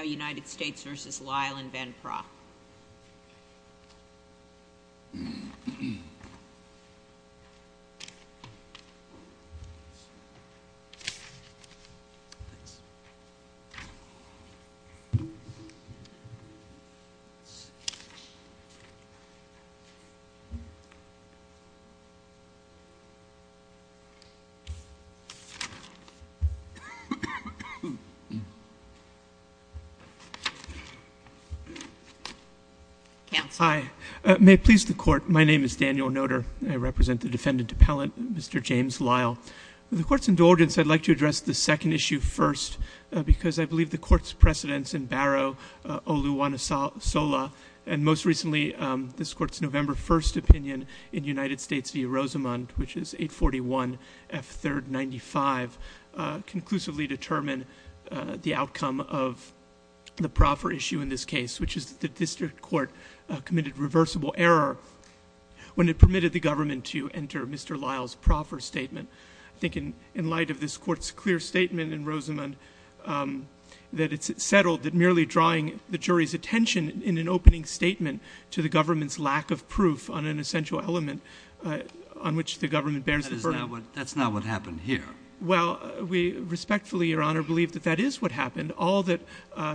v. Lyle and Van Praagh. Hi. May it please the Court, my name is Daniel Noter. I represent the defendant appellant, Mr. James Lyle. With the Court's indulgence, I'd like to address the second issue first, because I believe the Court's precedents in Barrow, Oluwanasola, and most recently, this Court's November 1st opinion in United States v. Rosamund, which is 841 F. 3rd 95, conclusively determine the outcome of the proffer issue in this case, which is that the district court committed reversible error when it permitted the government to enter Mr. Lyle's proffer statement. I think in light of this Court's clear statement in Rosamund, that it's settled that merely drawing the jury's attention in an opening statement to the government's lack of proof on an essential element on which the government bears the burden. That's not what happened here. Well, we respectfully, Your Honor, believe that that is what happened. All that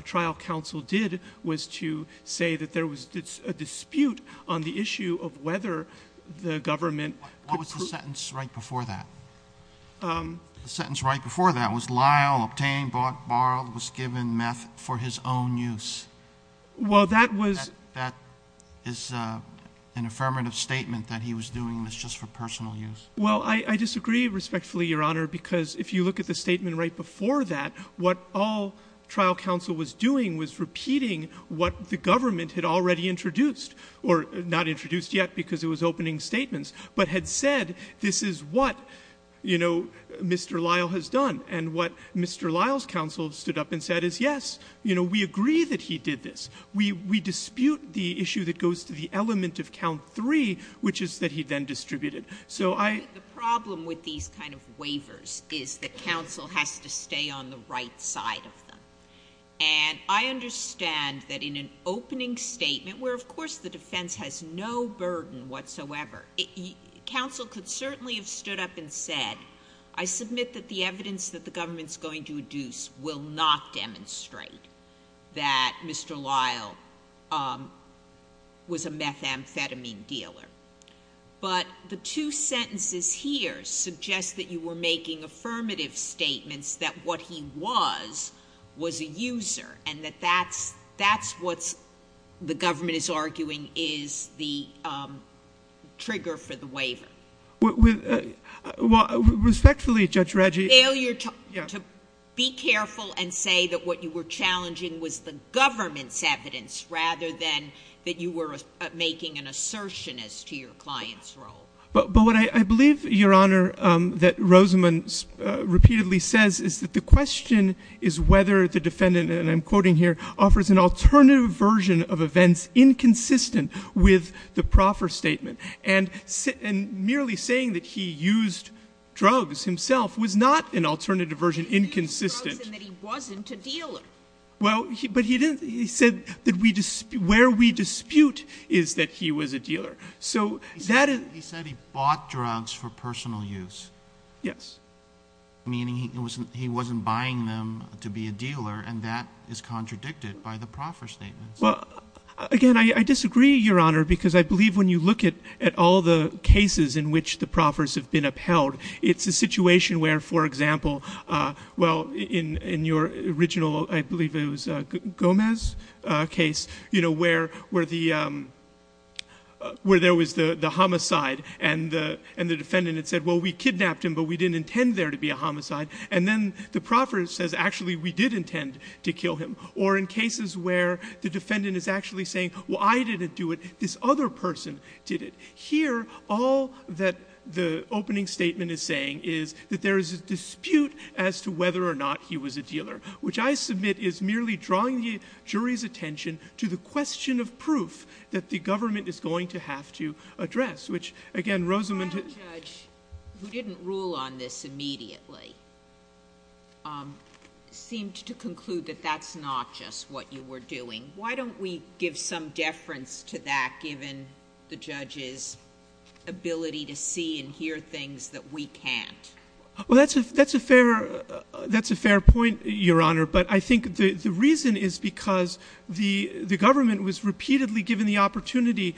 trial counsel did was to say that there was a dispute on the issue of whether the government could prove What was the sentence right before that? The sentence right before that was Lyle obtained, bought, borrowed, was given meth for his own use. Well, that was That is an affirmative statement that he was doing this just for personal use. Well, I disagree respectfully, Your Honor, because if you look at the statement right before that, what all trial counsel was doing was repeating what the government had already introduced or not introduced yet because it was opening statements, but had said this is what, you know, Mr. Lyle has done. And what Mr. Lyle's counsel stood up and said is, yes, you know, we agree that he did this. We dispute the issue that goes to the element of count three, which is that he then distributed. So I The problem with these kind of waivers is that counsel has to stay on the right side of them. And I understand that in an opening statement where, of course, the defense has no burden whatsoever, counsel could certainly have stood up and said, I submit that the evidence that the government's going to here suggests that you were making affirmative statements that what he was was a user and that that's that's what the government is arguing is the trigger for the waiver. Well, respectfully, Judge Reggie Failure to be careful and say that what you were challenging was the government's evidence rather than that you were making an assertion as to your client's role. But what I believe, Your Honor, that Rosamond's repeatedly says is that the question is whether the defendant and I'm quoting here offers an alternative version of events inconsistent with the proffer statement. And merely saying that he used drugs himself was not an alternative version. Inconsistent that he wasn't a dealer. Well, but he didn't. He said that we just where we dispute is that he was a dealer. So that he said he bought drugs for personal use. Yes. Meaning he wasn't he wasn't buying them to be a dealer. And that is contradicted by the proffer statement. Well, again, I disagree, Your Honor, because I believe when you look at at all the cases in which the proffers have been upheld, it's a situation where, for example. Well, in in your original, I believe it was Gomez case, you know, where where the where there was the homicide and and the defendant had said, well, we kidnapped him, but we didn't intend there to be a homicide. And then the proffer says, actually, we did intend to kill him. Or in cases where the defendant is actually saying, well, I didn't do it. This other person did it here. All that the opening statement is saying is that there is a dispute as to whether or not he was a dealer, which I submit is merely drawing the jury's attention to the question of proof that the government is going to have to address, which again, Rosamond. Who didn't rule on this immediately? Seemed to conclude that that's not just what you were doing. Why don't we give some deference to that, given the judge's ability to see and hear things that we can't? Well, that's a that's a fair that's a fair point, Your Honor. But I think the reason is because the the government was repeatedly given the opportunity,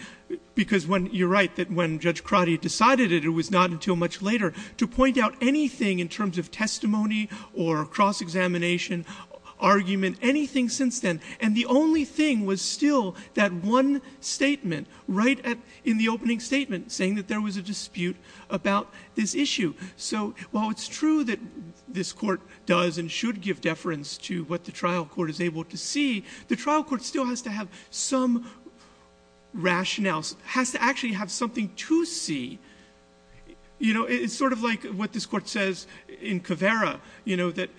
because when you're right, that when Judge Crotty decided it, it was not until much later to point out anything in terms of testimony or cross-examination argument, anything since then. And the only thing was still that one statement right in the opening statement, saying that there was a dispute about this issue. So while it's true that this court does and should give deference to what the trial court is able to see, the trial court still has to have some rationale, has to actually have something to see. You know, it's sort of like what this court says in Caveira, you know, that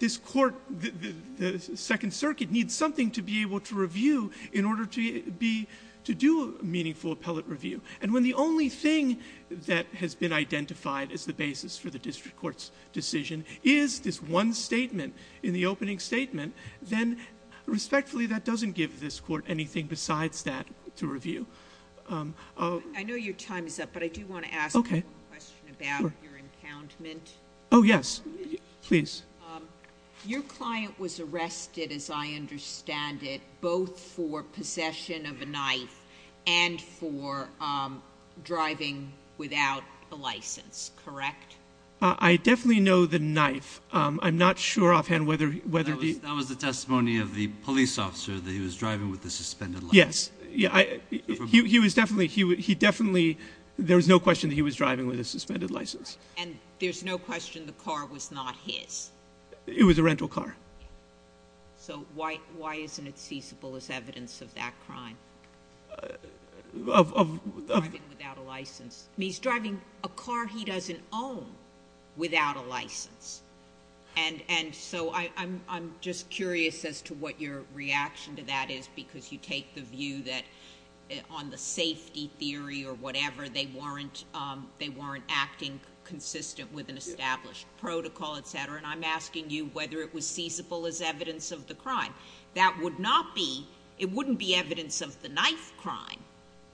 this court, the Second Circuit, needs something to be able to review in order to be to do meaningful appellate review. And when the only thing that has been identified as the basis for the district court's decision is this one statement in the opening statement, then respectfully, that doesn't give this court anything besides that to review. I know your time is up, but I do want to ask a question about your encountment. Oh, yes, please. Your client was arrested, as I understand it, both for possession of a knife and for driving without a license, correct? I definitely know the knife. I'm not sure offhand whether he- That was the testimony of the police officer that he was driving with a suspended license. Yes. He was definitely, he definitely, there was no question that he was driving with a suspended license. And there's no question the car was not his? It was a rental car. So why isn't it feasible as evidence of that crime? Of- Driving without a license. He's driving a car he doesn't own without a license. And so I'm just curious as to what your reaction to that is, because you take the view that on the safety theory or whatever, they weren't acting consistent with an established protocol, etc. And I'm asking you whether it was feasible as evidence of the crime. That would not be, it wouldn't be evidence of the knife crime,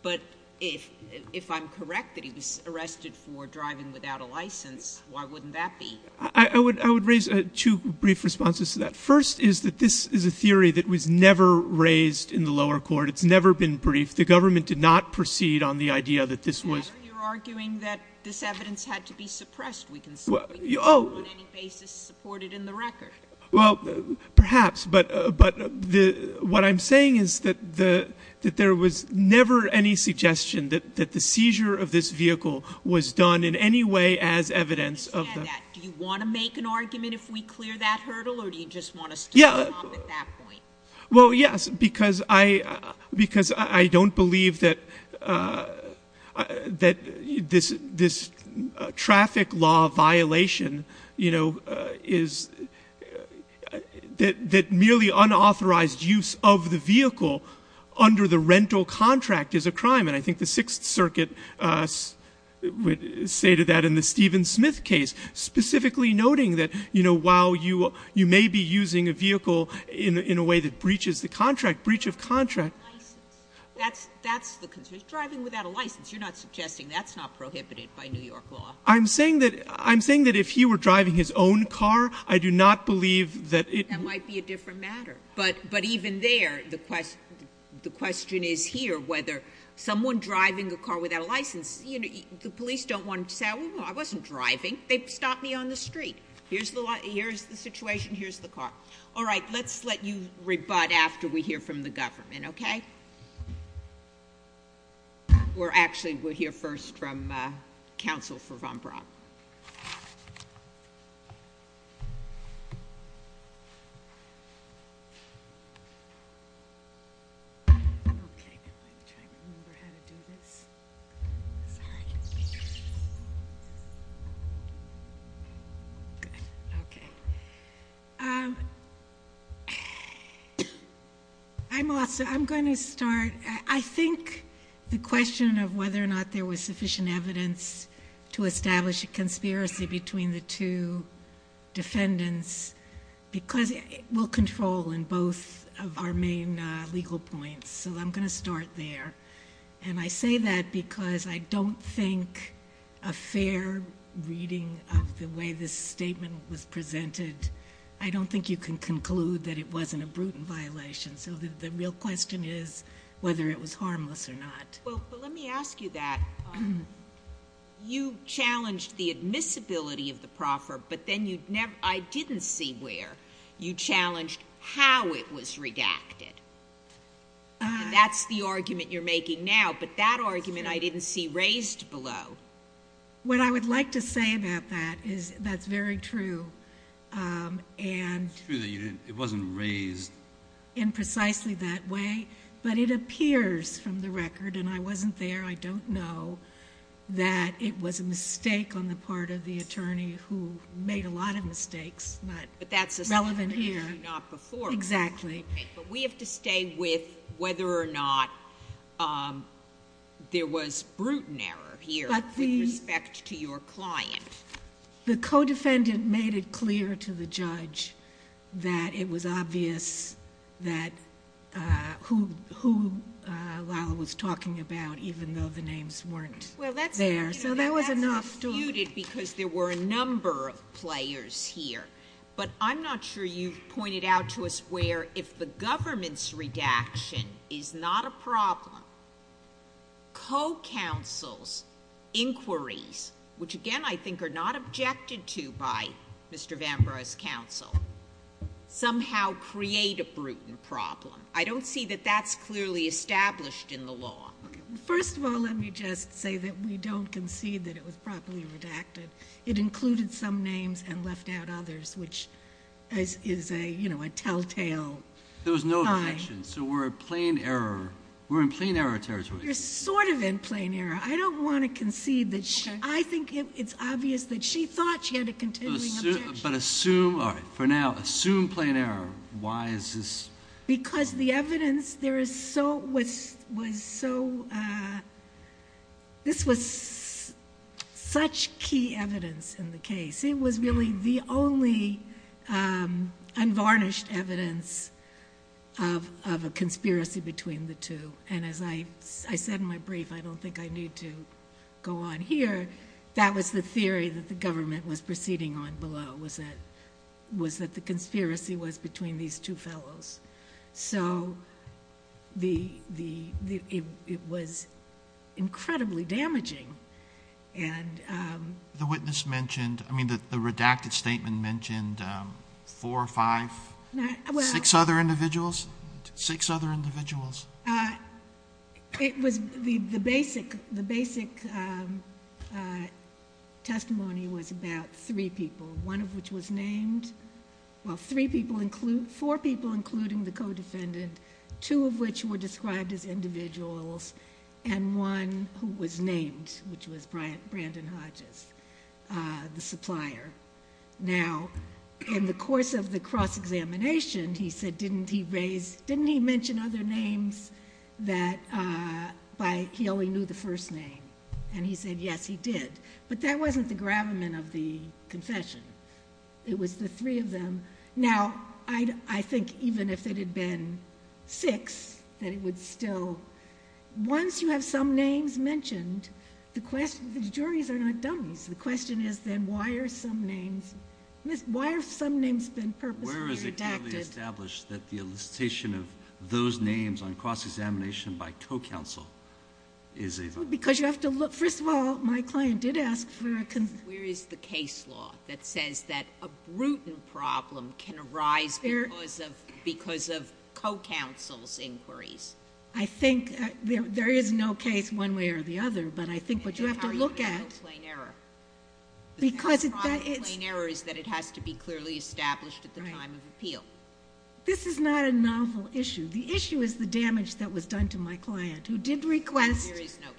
but if I'm correct that he was arrested for driving without a license, why wouldn't that be? I would raise two brief responses to that. First is that this is a theory that was never raised in the lower court. It's never been briefed. The government did not proceed on the idea that this was- You're arguing that this evidence had to be suppressed. We can see on any basis supported in the record. Well, perhaps, but what I'm saying is that there was never any suggestion that the seizure of this vehicle was done in any way as evidence of the- Do you want to make an argument if we clear that hurdle, or do you just want us to stop at that point? Well, yes, because I don't believe that this traffic law violation is that merely unauthorized use of the vehicle under the rental contract is a crime. And I think the Sixth Circuit stated that in the Stephen Smith case, specifically noting that while you may be using a vehicle in a way that breaches the contract, breach of contract- That's the concern. Driving without a license, you're not suggesting that's not prohibited by New York law? I'm saying that if he were driving his own car, I do not believe that it- That might be a different matter. But even there, the question is here whether someone driving a car without a license- The police don't want to say, well, I wasn't driving. They stopped me on the street. Here's the situation. Here's the car. All right, let's let you rebut after we hear from the government, okay? We're actually- We'll hear first from counsel for Von Braun. Okay. I'm trying to remember how to do this. Sorry. Okay. Okay. I'm going to start. I think the question of whether or not there was sufficient evidence to establish a conspiracy between the two defendants will control in both of our main legal points. So I'm going to start there. And I say that because I don't think a fair reading of the way this statement was presented- I don't think you can conclude that it wasn't a brutal violation. So the real question is whether it was harmless or not. Well, let me ask you that. You challenged the admissibility of the proffer, but then you- I didn't see where. You challenged how it was redacted. That's the argument you're making now. But that argument I didn't see raised below. What I would like to say about that is that's very true. And- It's true that it wasn't raised. In precisely that way. But it appears from the record, and I wasn't there, I don't know, that it was a mistake on the part of the attorney who made a lot of mistakes. But that's a- Relevant here. Not before. Exactly. Okay. But we have to stay with whether or not there was brute error here with respect to your client. The co-defendant made it clear to the judge that it was obvious that who Lila was talking about, even though the names weren't there. So that was enough to- Well, that's refuted because there were a number of players here. But I'm not sure you've pointed out to us where, if the government's redaction is not a problem, co-counsel's inquiries, which, again, I think are not objected to by Mr. Vanbrugh's counsel, somehow create a brutal problem. I don't see that that's clearly established in the law. First of all, let me just say that we don't concede that it was properly redacted. It included some names and left out others, which is a telltale sign. There was no objection, so we're in plain error territory. You're sort of in plain error. I don't want to concede that- Okay. I think it's obvious that she thought she had a continuing objection. But assume, all right, for now, assume plain error. Why is this- Because the evidence there was so- This was such key evidence in the case. It was really the only unvarnished evidence of a conspiracy between the two. And as I said in my brief, I don't think I need to go on here, that was the theory that the government was proceeding on below, was that the conspiracy was between these two fellows. So it was incredibly damaging. The witness mentioned, I mean the redacted statement mentioned four or five, six other individuals? Six other individuals. It was the basic testimony was about three people, one of which was named. Well, four people including the co-defendant, two of which were described as individuals, and one who was named, which was Brandon Hodges, the supplier. Now, in the course of the cross-examination, he said, didn't he mention other names that he only knew the first name? And he said, yes, he did. But that wasn't the gravamen of the confession. It was the three of them. Now, I think even if it had been six, that it would still- Once you have some names mentioned, the juries are not dummies. The question is then, why are some names- Why have some names been purposely redacted? Where is it clearly established that the elicitation of those names on cross-examination by co-counsel is a- Because you have to look- First of all, my client did ask for a- Where is the case law that says that a brutal problem can arise because of co-counsel's inquiries? I think there is no case one way or the other, but I think what you have to look at- It's not a plain error. Because that is- The problem with plain error is that it has to be clearly established at the time of appeal. This is not a novel issue. The issue is the damage that was done to my client, who did request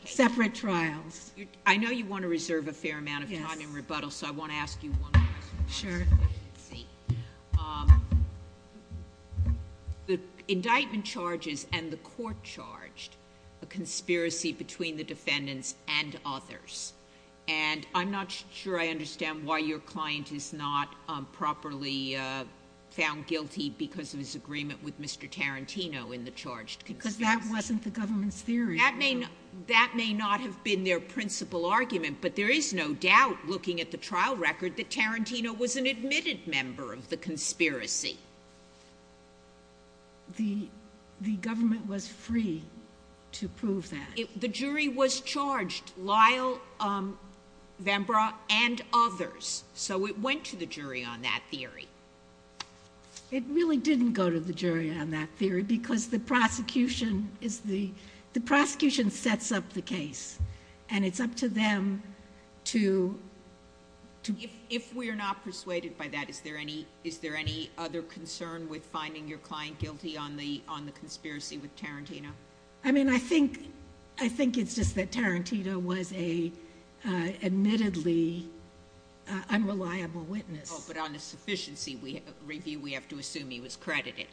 separate trials. I know you want to reserve a fair amount of time in rebuttal, so I want to ask you one more question. Sure. Let's see. The indictment charges and the court charged a conspiracy between the defendants and others. And I'm not sure I understand why your client is not properly found guilty because of his agreement with Mr. Tarantino in the charged conspiracy. Because that wasn't the government's theory. That may not have been their principal argument, but there is no doubt, looking at the trial record, that Tarantino was an admitted member of the conspiracy. The government was free to prove that. The jury was charged, Lyle, Vembra, and others. It really didn't go to the jury on that theory because the prosecution sets up the case. And it's up to them to- If we're not persuaded by that, is there any other concern with finding your client guilty on the conspiracy with Tarantino? I mean, I think it's just that Tarantino was an admittedly unreliable witness. Oh, but on the sufficiency review, we have to assume he was credited.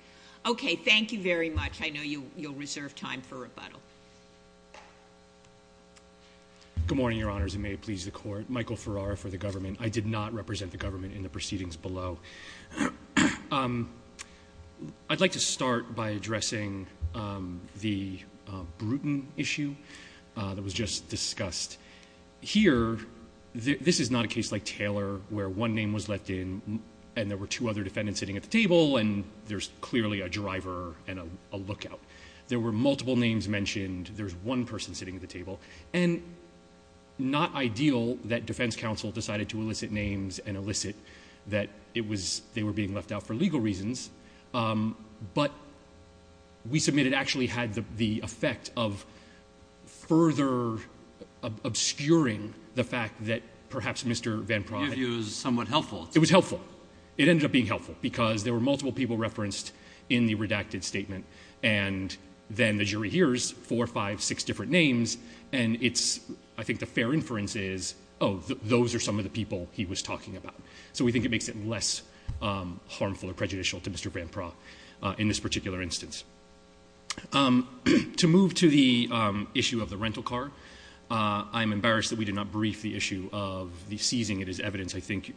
Okay, thank you very much. I know you'll reserve time for rebuttal. Good morning, Your Honors, and may it please the Court. Michael Ferrara for the government. I did not represent the government in the proceedings below. I'd like to start by addressing the Bruton issue that was just discussed. Here, this is not a case like Taylor where one name was left in and there were two other defendants sitting at the table, and there's clearly a driver and a lookout. There were multiple names mentioned. There's one person sitting at the table. And not ideal that defense counsel decided to elicit names and elicit that they were being left out for legal reasons. But we submit it actually had the effect of further obscuring the fact that perhaps Mr. Van Praagh. Your view is somewhat helpful. It was helpful. It ended up being helpful because there were multiple people referenced in the redacted statement. And then the jury hears four, five, six different names. And it's, I think the fair inference is, oh, those are some of the people he was talking about. So we think it makes it less harmful or prejudicial to Mr. Van Praagh in this particular instance. To move to the issue of the rental car, I'm embarrassed that we did not brief the issue of the seizing. It is evidence, I think,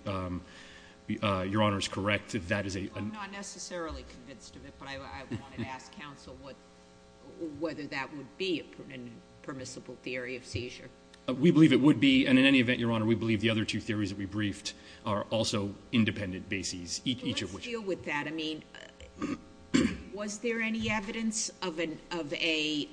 Your Honor, is correct that that is a. I'm not necessarily convinced of it, but I wanted to ask counsel whether that would be a permissible theory of seizure. We believe it would be. And in any event, Your Honor, we believe the other two theories that we briefed are also independent bases. Each of which deal with that. I mean, was there any evidence of an of a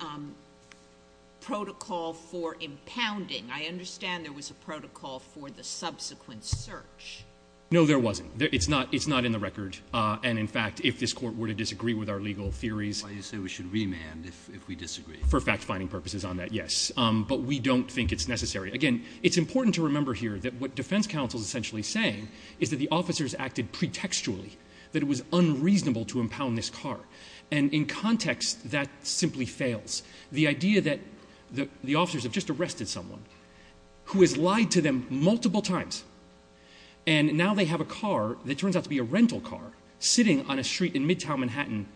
protocol for impounding? I understand there was a protocol for the subsequent search. No, there wasn't. It's not it's not in the record. And in fact, if this court were to disagree with our legal theories, you say we should remand if we disagree for fact finding purposes on that. Yes. But we don't think it's necessary. Again, it's important to remember here that what defense counsel is essentially saying is that the officers acted pretextually. That it was unreasonable to impound this car. And in context, that simply fails. The idea that the officers have just arrested someone who has lied to them multiple times. And now they have a car that turns out to be a rental car sitting on a street in midtown Manhattan,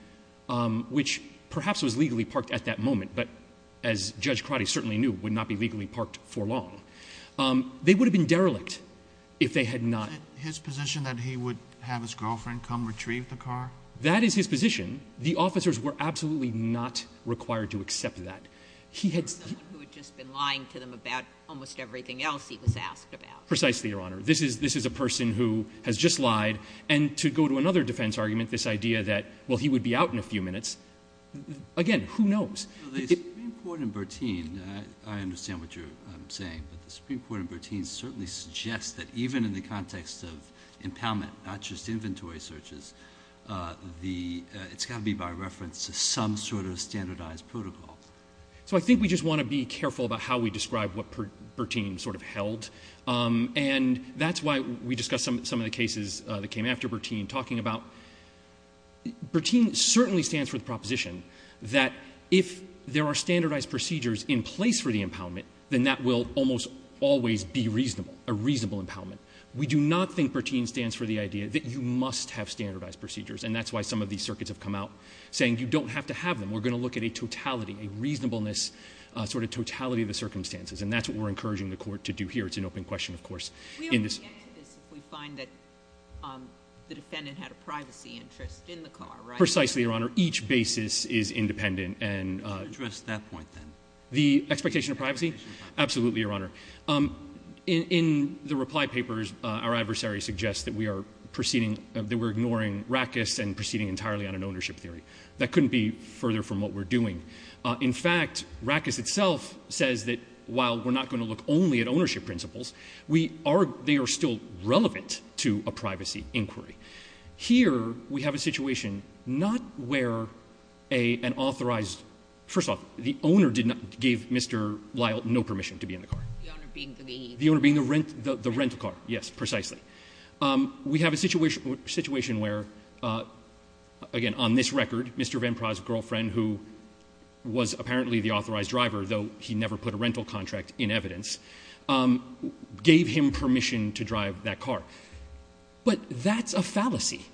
which perhaps was legally parked at that moment. But as Judge Crotty certainly knew, would not be legally parked for long. They would have been derelict if they had not. Is it his position that he would have his girlfriend come retrieve the car? That is his position. The officers were absolutely not required to accept that. Someone who had just been lying to them about almost everything else he was asked about. Precisely, Your Honor. This is a person who has just lied. And to go to another defense argument, this idea that, well, he would be out in a few minutes, again, who knows? The Supreme Court in Bertin, I understand what you're saying. But the Supreme Court in Bertin certainly suggests that even in the context of impoundment, not just inventory searches, it's got to be by reference to some sort of standardized protocol. So I think we just want to be careful about how we describe what Bertin sort of held. And that's why we discussed some of the cases that came after Bertin talking about. Bertin certainly stands for the proposition that if there are standardized procedures in place for the impoundment, then that will almost always be reasonable, a reasonable impoundment. We do not think Bertin stands for the idea that you must have standardized procedures. And that's why some of these circuits have come out saying you don't have to have them. We're going to look at a totality, a reasonableness sort of totality of the circumstances. And that's what we're encouraging the Court to do here. It's an open question, of course. We only get this if we find that the defendant had a privacy interest in the car, right? Precisely, Your Honor. Each basis is independent. Address that point, then. The expectation of privacy? Absolutely, Your Honor. In the reply papers, our adversary suggests that we are ignoring Rackus and proceeding entirely on an ownership theory. That couldn't be further from what we're doing. In fact, Rackus itself says that while we're not going to look only at ownership principles, we are — they are still relevant to a privacy inquiry. Here, we have a situation not where an authorized — first off, the owner did not give Mr. Lyle no permission to be in the car. The owner being the — The owner being the rental car, yes, precisely. We have a situation where, again, on this record, Mr. Van Praagh's girlfriend, who was apparently the authorized driver, though he never put a rental contract in evidence, gave him permission to drive that car. But that's a fallacy.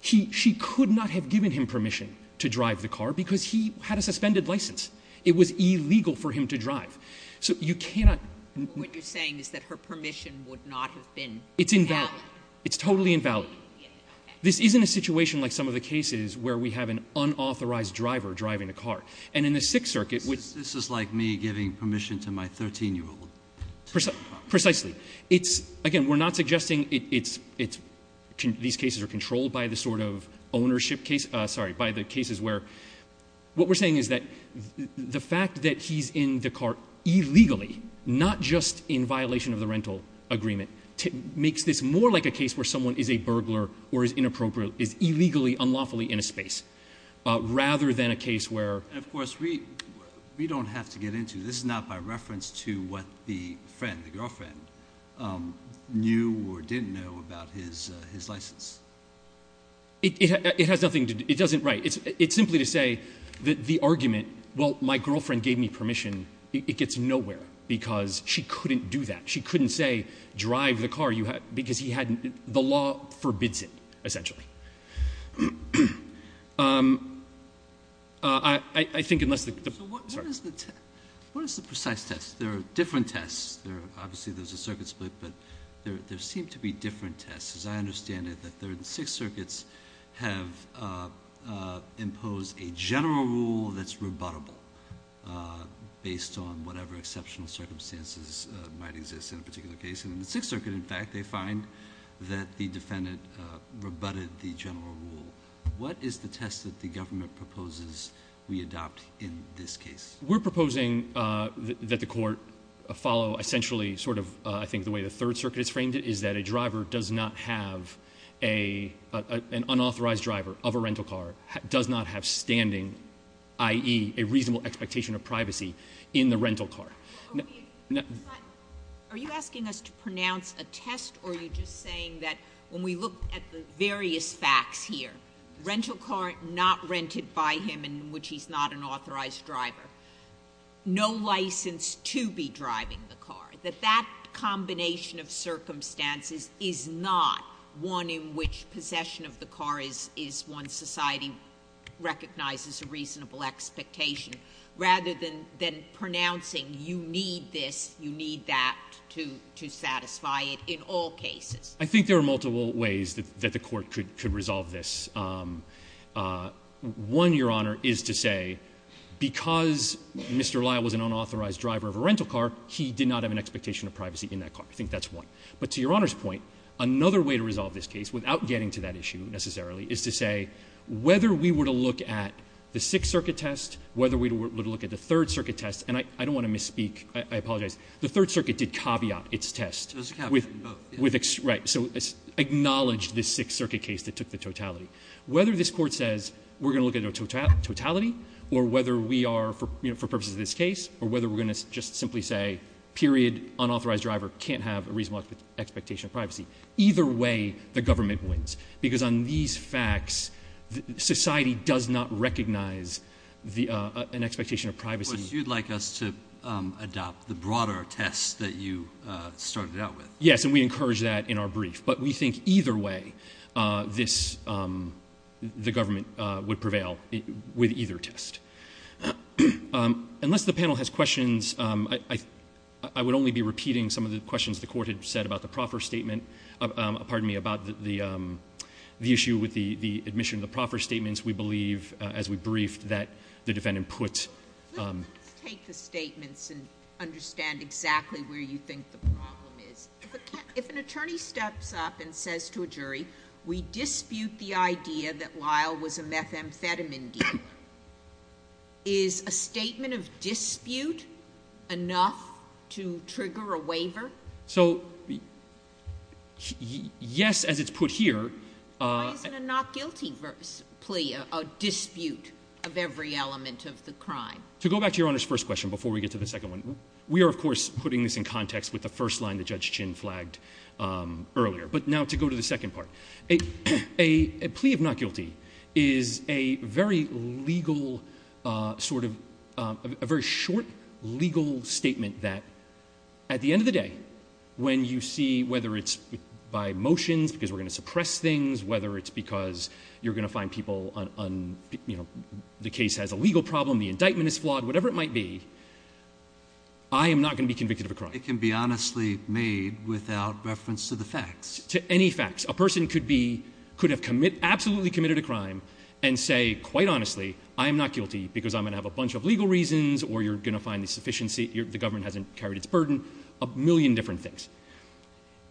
She could not have given him permission to drive the car because he had a suspended license. It was illegal for him to drive. So you cannot — What you're saying is that her permission would not have been — It's invalid. It's totally invalid. Yes, okay. This isn't a situation like some of the cases where we have an unauthorized driver driving a car. And in the Sixth Circuit, which — This is like me giving permission to my 13-year-old to drive a car. Precisely. It's — again, we're not suggesting it's — these cases are controlled by the sort of ownership case — sorry, by the cases where — what we're saying is that the fact that he's in the car illegally, not just in violation of the rental agreement, makes this more like a case where someone is a burglar or is inappropriate, is illegally, unlawfully in a space, rather than a case where — And, of course, we don't have to get into — this is not by reference to what the friend, the girlfriend, knew or didn't know about his license. It has nothing to do — it doesn't — right. It's simply to say that the argument, well, my girlfriend gave me permission, it gets nowhere because she couldn't do that. She couldn't say drive the car because he hadn't — the law forbids it, essentially. I think unless the — sorry. What is the precise test? There are different tests. Obviously, there's a circuit split, but there seem to be different tests. As I understand it, the Third and Sixth Circuits have imposed a general rule that's rebuttable based on whatever exceptional circumstances might exist in a particular case. And in the Sixth Circuit, in fact, they find that the defendant rebutted the general rule. What is the test that the government proposes we adopt in this case? We're proposing that the court follow, essentially, sort of, I think, the way the Third Circuit has framed it is that a driver does not have — an unauthorized driver of a rental car does not have standing, i.e., a reasonable expectation of privacy in the rental car. Are you asking us to pronounce a test or are you just saying that when we look at the various facts here, rental car not rented by him in which he's not an authorized driver, no license to be driving the car, that that combination of circumstances is not one in which possession of the car is one society recognizes a reasonable expectation, rather than pronouncing you need this, you need that to satisfy it in all cases? I think there are multiple ways that the court could resolve this. One, Your Honor, is to say because Mr. Lyle was an unauthorized driver of a rental car, he did not have an expectation of privacy in that car. I think that's one. But to Your Honor's point, another way to resolve this case, without getting to that issue necessarily, is to say whether we were to look at the Sixth Circuit test, whether we were to look at the Third Circuit test, and I don't want to misspeak. I apologize. The Third Circuit did caveat its test. Right. So acknowledge the Sixth Circuit case that took the totality. Whether this court says we're going to look at a totality, or whether we are, for purposes of this case, or whether we're going to just simply say period, unauthorized driver can't have a reasonable expectation of privacy, either way the government wins. Because on these facts, society does not recognize an expectation of privacy. But you'd like us to adopt the broader test that you started out with. Yes. And we encourage that in our brief. But we think either way the government would prevail with either test. Unless the panel has questions, I would only be repeating some of the questions the Court had said about the proffer statement, pardon me, about the issue with the admission of the proffer statements. We believe, as we briefed, that the defendant put... Let's take the statements and understand exactly where you think the problem is. If an attorney steps up and says to a jury, we dispute the idea that Lyle was a methamphetamine dealer, is a statement of dispute enough to trigger a waiver? So, yes, as it's put here... Why is it a not guilty plea, a dispute of every element of the crime? To go back to Your Honor's first question before we get to the second one, we are, of course, putting this in context with the first line that Judge Chin flagged earlier. But now to go to the second part. A plea of not guilty is a very legal sort of... a very short legal statement that, at the end of the day, when you see whether it's by motions because we're going to suppress things, whether it's because you're going to find people on... whether it's flawed, whatever it might be, I am not going to be convicted of a crime. It can be honestly made without reference to the facts. To any facts. A person could have absolutely committed a crime and say, quite honestly, I am not guilty because I'm going to have a bunch of legal reasons or you're going to find the government hasn't carried its burden, a million different things.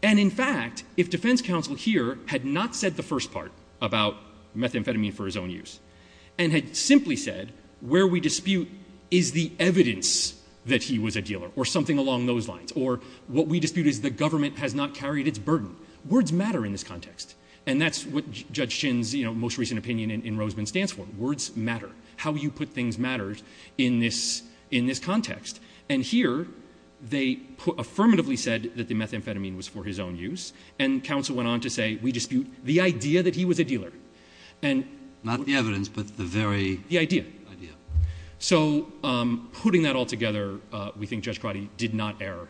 And, in fact, if defense counsel here had not said the first part about methamphetamine for his own use and had simply said where we dispute is the evidence that he was a dealer or something along those lines or what we dispute is the government has not carried its burden. Words matter in this context. And that's what Judge Chin's most recent opinion in Roseman stands for. Words matter. How you put things matters in this context. And here they affirmatively said that the methamphetamine was for his own use Not the evidence, but the very... The idea. So putting that all together, we think Judge Crotty did not err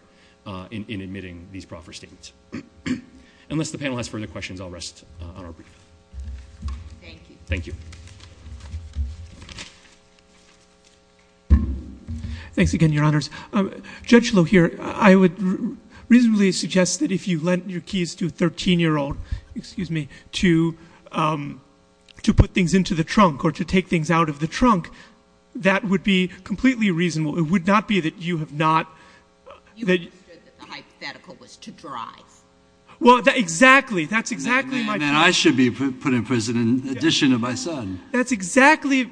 in admitting these proffer statements. Unless the panel has further questions, I'll rest on our brief. Thank you. Thank you. Thanks again, Your Honors. Judge Loh here, I would reasonably suggest that if you lent your keys to a 13-year-old, excuse me, to put things into the trunk or to take things out of the trunk, that would be completely reasonable. It would not be that you have not... You understood that the hypothetical was to drive. Well, exactly. That's exactly my point. And that I should be put in prison in addition to my son. That's exactly...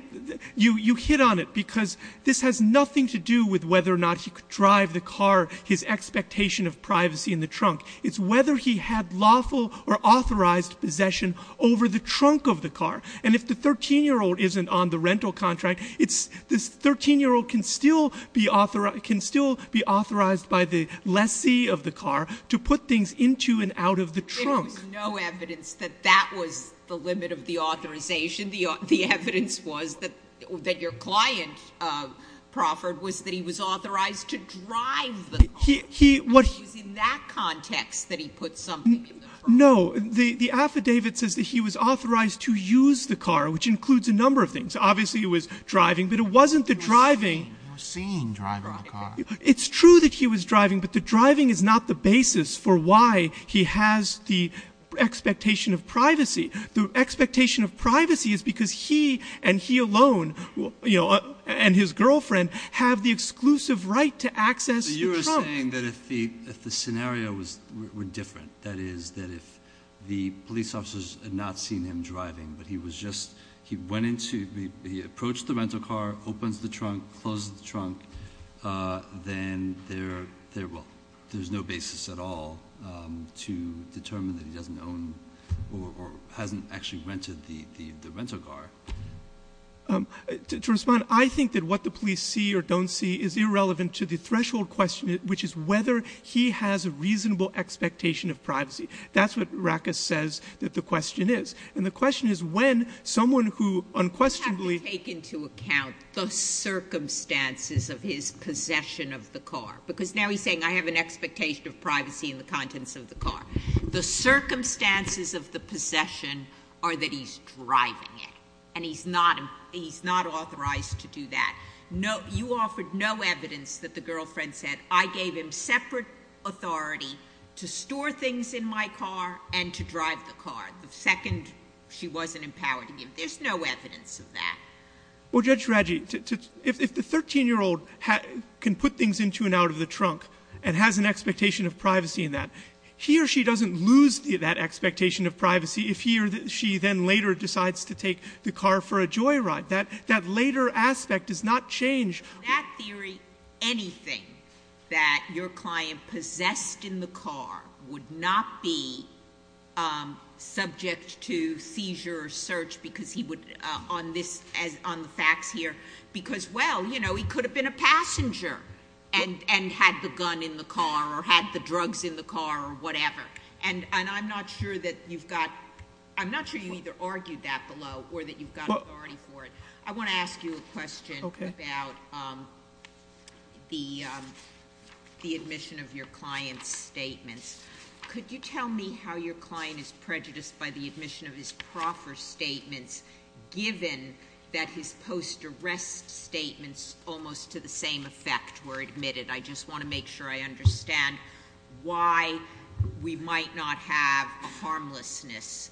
You hit on it because this has nothing to do with whether or not he could drive the car, his expectation of privacy in the trunk. It's whether he had lawful or authorized possession over the trunk of the car. And if the 13-year-old isn't on the rental contract, this 13-year-old can still be authorized by the lessee of the car to put things into and out of the trunk. There was no evidence that that was the limit of the authorization. The evidence was that your client, Crawford, was that he was authorized to drive the car. It was in that context that he put something in the trunk. No. The affidavit says that he was authorized to use the car, which includes a number of things. Obviously, it was driving, but it wasn't the driving. You were seen driving the car. It's true that he was driving, but the driving is not the basis for why he has the expectation of privacy. The expectation of privacy is because he and he alone and his girlfriend have the exclusive right to access the trunk. You are saying that if the scenario were different, that is, that if the police officers had not seen him driving, but he approached the rental car, opens the trunk, closes the trunk, then there's no basis at all to determine that he doesn't own or hasn't actually rented the rental car. To respond, I think that what the police see or don't see is irrelevant to the threshold question, which is whether he has a reasonable expectation of privacy. That's what Rackus says that the question is. And the question is when someone who unquestionably— Because now he's saying, I have an expectation of privacy in the contents of the car. The circumstances of the possession are that he's driving it, and he's not authorized to do that. You offered no evidence that the girlfriend said, I gave him separate authority to store things in my car and to drive the car. The second, she wasn't empowered to give. There's no evidence of that. Well, Judge Radji, if the 13-year-old can put things into and out of the trunk and has an expectation of privacy in that, he or she doesn't lose that expectation of privacy if he or she then later decides to take the car for a joyride. That later aspect does not change. In that theory, anything that your client possessed in the car would not be subject to seizure or search on the facts here because, well, he could have been a passenger and had the gun in the car or had the drugs in the car or whatever. And I'm not sure you either argued that below or that you've got authority for it. I want to ask you a question about the admission of your client's statements. Could you tell me how your client is prejudiced by the admission of his proffer statements given that his post-arrest statements almost to the same effect were admitted? I just want to make sure I understand why we might not have a harmlessness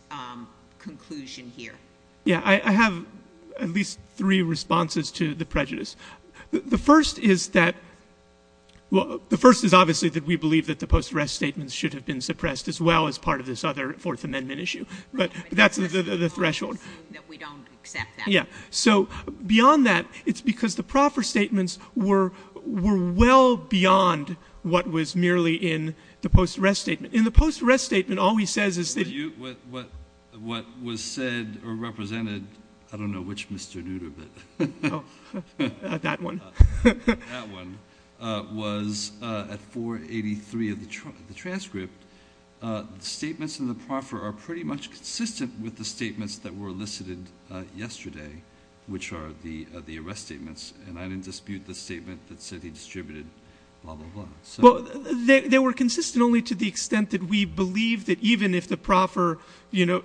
conclusion here. Yeah, I have at least three responses to the prejudice. The first is that, well, the first is obviously that we believe that the post-arrest statements should have been suppressed as well as part of this other Fourth Amendment issue. But that's the threshold. We don't accept that. Yeah. So beyond that, it's because the proffer statements were well beyond what was merely in the post-arrest statement. In the post-arrest statement, all he says is that you— What was said or represented, I don't know which Mr. Nutter, but— Oh, that one. That one was at 483 of the transcript. The statements in the proffer are pretty much consistent with the statements that were elicited yesterday, which are the arrest statements. And I didn't dispute the statement that said he distributed blah, blah, blah. Well, they were consistent only to the extent that we believe that even if the proffer— even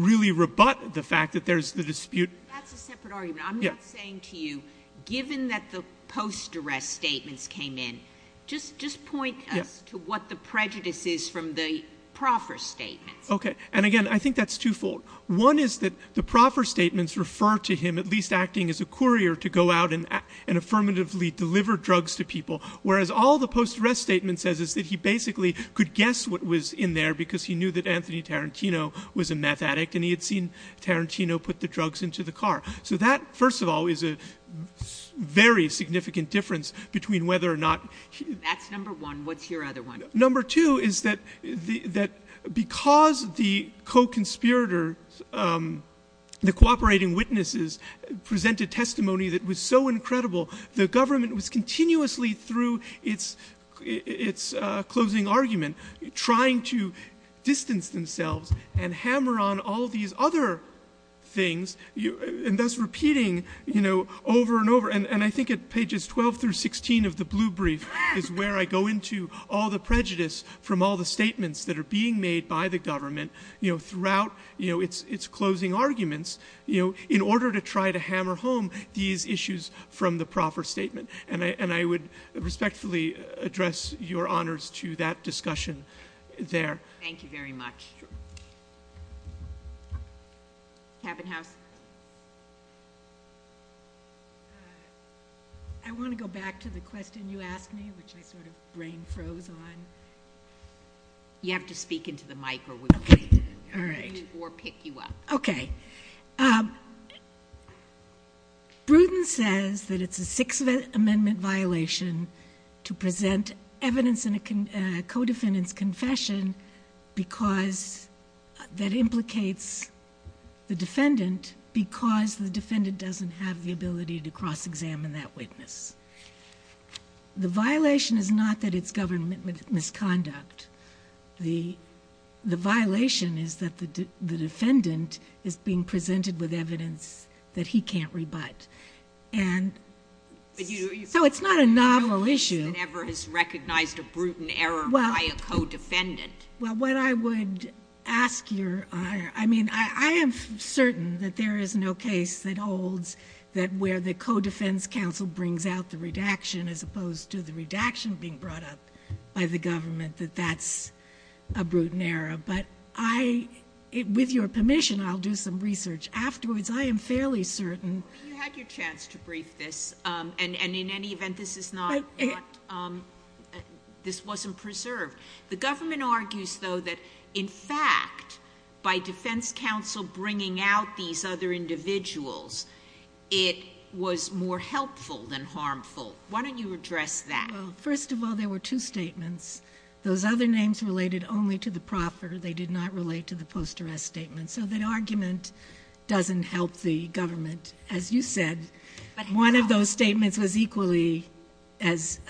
really rebut the fact that there's the dispute— That's a separate argument. I'm not saying to you, given that the post-arrest statements came in, just point us to what the prejudice is from the proffer statements. Okay. And, again, I think that's twofold. One is that the proffer statements refer to him at least acting as a courier to go out and affirmatively deliver drugs to people, whereas all the post-arrest statement says is that he basically could guess what was in there because he knew that Anthony Tarantino was a meth addict and he had seen Tarantino put the drugs into the car. So that, first of all, is a very significant difference between whether or not— That's number one. What's your other one? Number two is that because the co-conspirator, the cooperating witnesses, presented testimony that was so incredible, the government was continuously, through its closing argument, trying to distance themselves and hammer on all these other things, and thus repeating over and over. And I think at pages 12 through 16 of the blue brief is where I go into all the prejudice from all the statements that are being made by the government throughout its closing arguments in order to try to hammer home these issues from the proffer statement. And I would respectfully address your honors to that discussion there. Thank you very much. Cabin House? I want to go back to the question you asked me, which I sort of brain froze on. You have to speak into the mic or we can't hear you or pick you up. Okay. Bruton says that it's a Sixth Amendment violation to present evidence in a co-defendant's confession that implicates the defendant because the defendant doesn't have the ability to cross-examine that witness. The violation is not that it's government misconduct. The violation is that the defendant is being presented with evidence that he can't rebut. So it's not a novel issue. But you don't think that ever has recognized a Bruton error by a co-defendant? Well, what I would ask your... I mean, I am certain that there is no case that holds that where the co-defense counsel brings out the redaction as opposed to the redaction being brought up by the government, that that's a Bruton error. But I... with your permission, I'll do some research afterwards. I am fairly certain... You had your chance to brief this. And in any event, this is not... this wasn't preserved. The government argues, though, that in fact, by defense counsel bringing out these other individuals, it was more helpful than harmful. Why don't you address that? Well, first of all, there were two statements. Those other names related only to the proffer. They did not relate to the post-arrest statement. So that argument doesn't help the government. As you said, one of those statements was equally as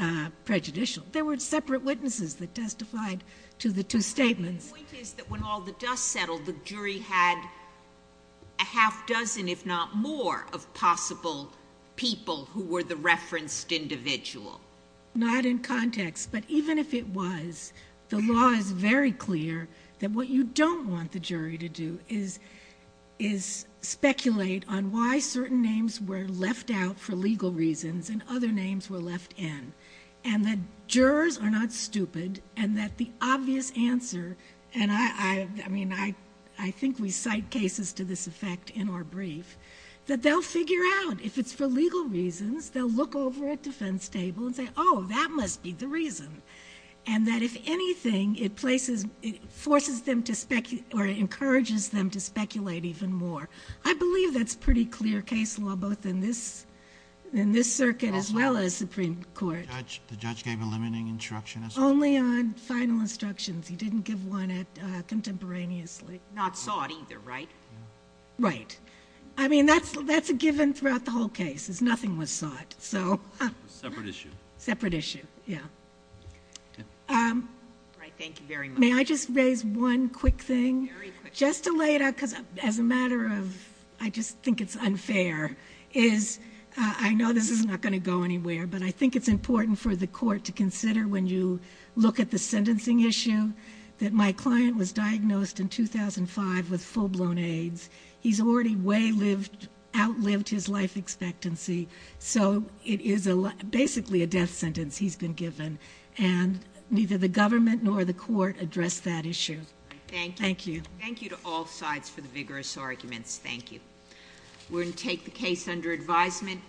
prejudicial. There were separate witnesses that testified to the two statements. The point is that when all the dust settled, the jury had a half dozen, if not more, of possible people who were the referenced individual. Not in context, but even if it was, the law is very clear that what you don't want the jury to do is speculate on why certain names were left out for legal reasons and other names were left in, and that jurors are not stupid, and that the obvious answer... and I think we cite cases to this effect in our brief... that they'll figure out, if it's for legal reasons, they'll look over at the defense table and say, oh, that must be the reason. And that if anything, it places... it forces them to... or it encourages them to speculate even more. I believe that's pretty clear case law, both in this circuit as well as Supreme Court. The judge gave a limiting instruction as well. Only on final instructions. He didn't give one contemporaneously. Not sought either, right? Right. I mean, that's a given throughout the whole case, is nothing was sought. Separate issue. Separate issue, yeah. All right, thank you very much. May I just raise one quick thing? Very quick. Just to lay it out, because as a matter of... I just think it's unfair, is... I know this is not going to go anywhere, but I think it's important for the court to consider when you look at the sentencing issue, that my client was diagnosed in 2005 with full-blown AIDS. He's already way outlived his life expectancy, so it is basically a death sentence he's been given. And neither the government nor the court addressed that issue. Thank you. Thank you to all sides for the vigorous arguments. Thank you. We're going to take the case under advisement.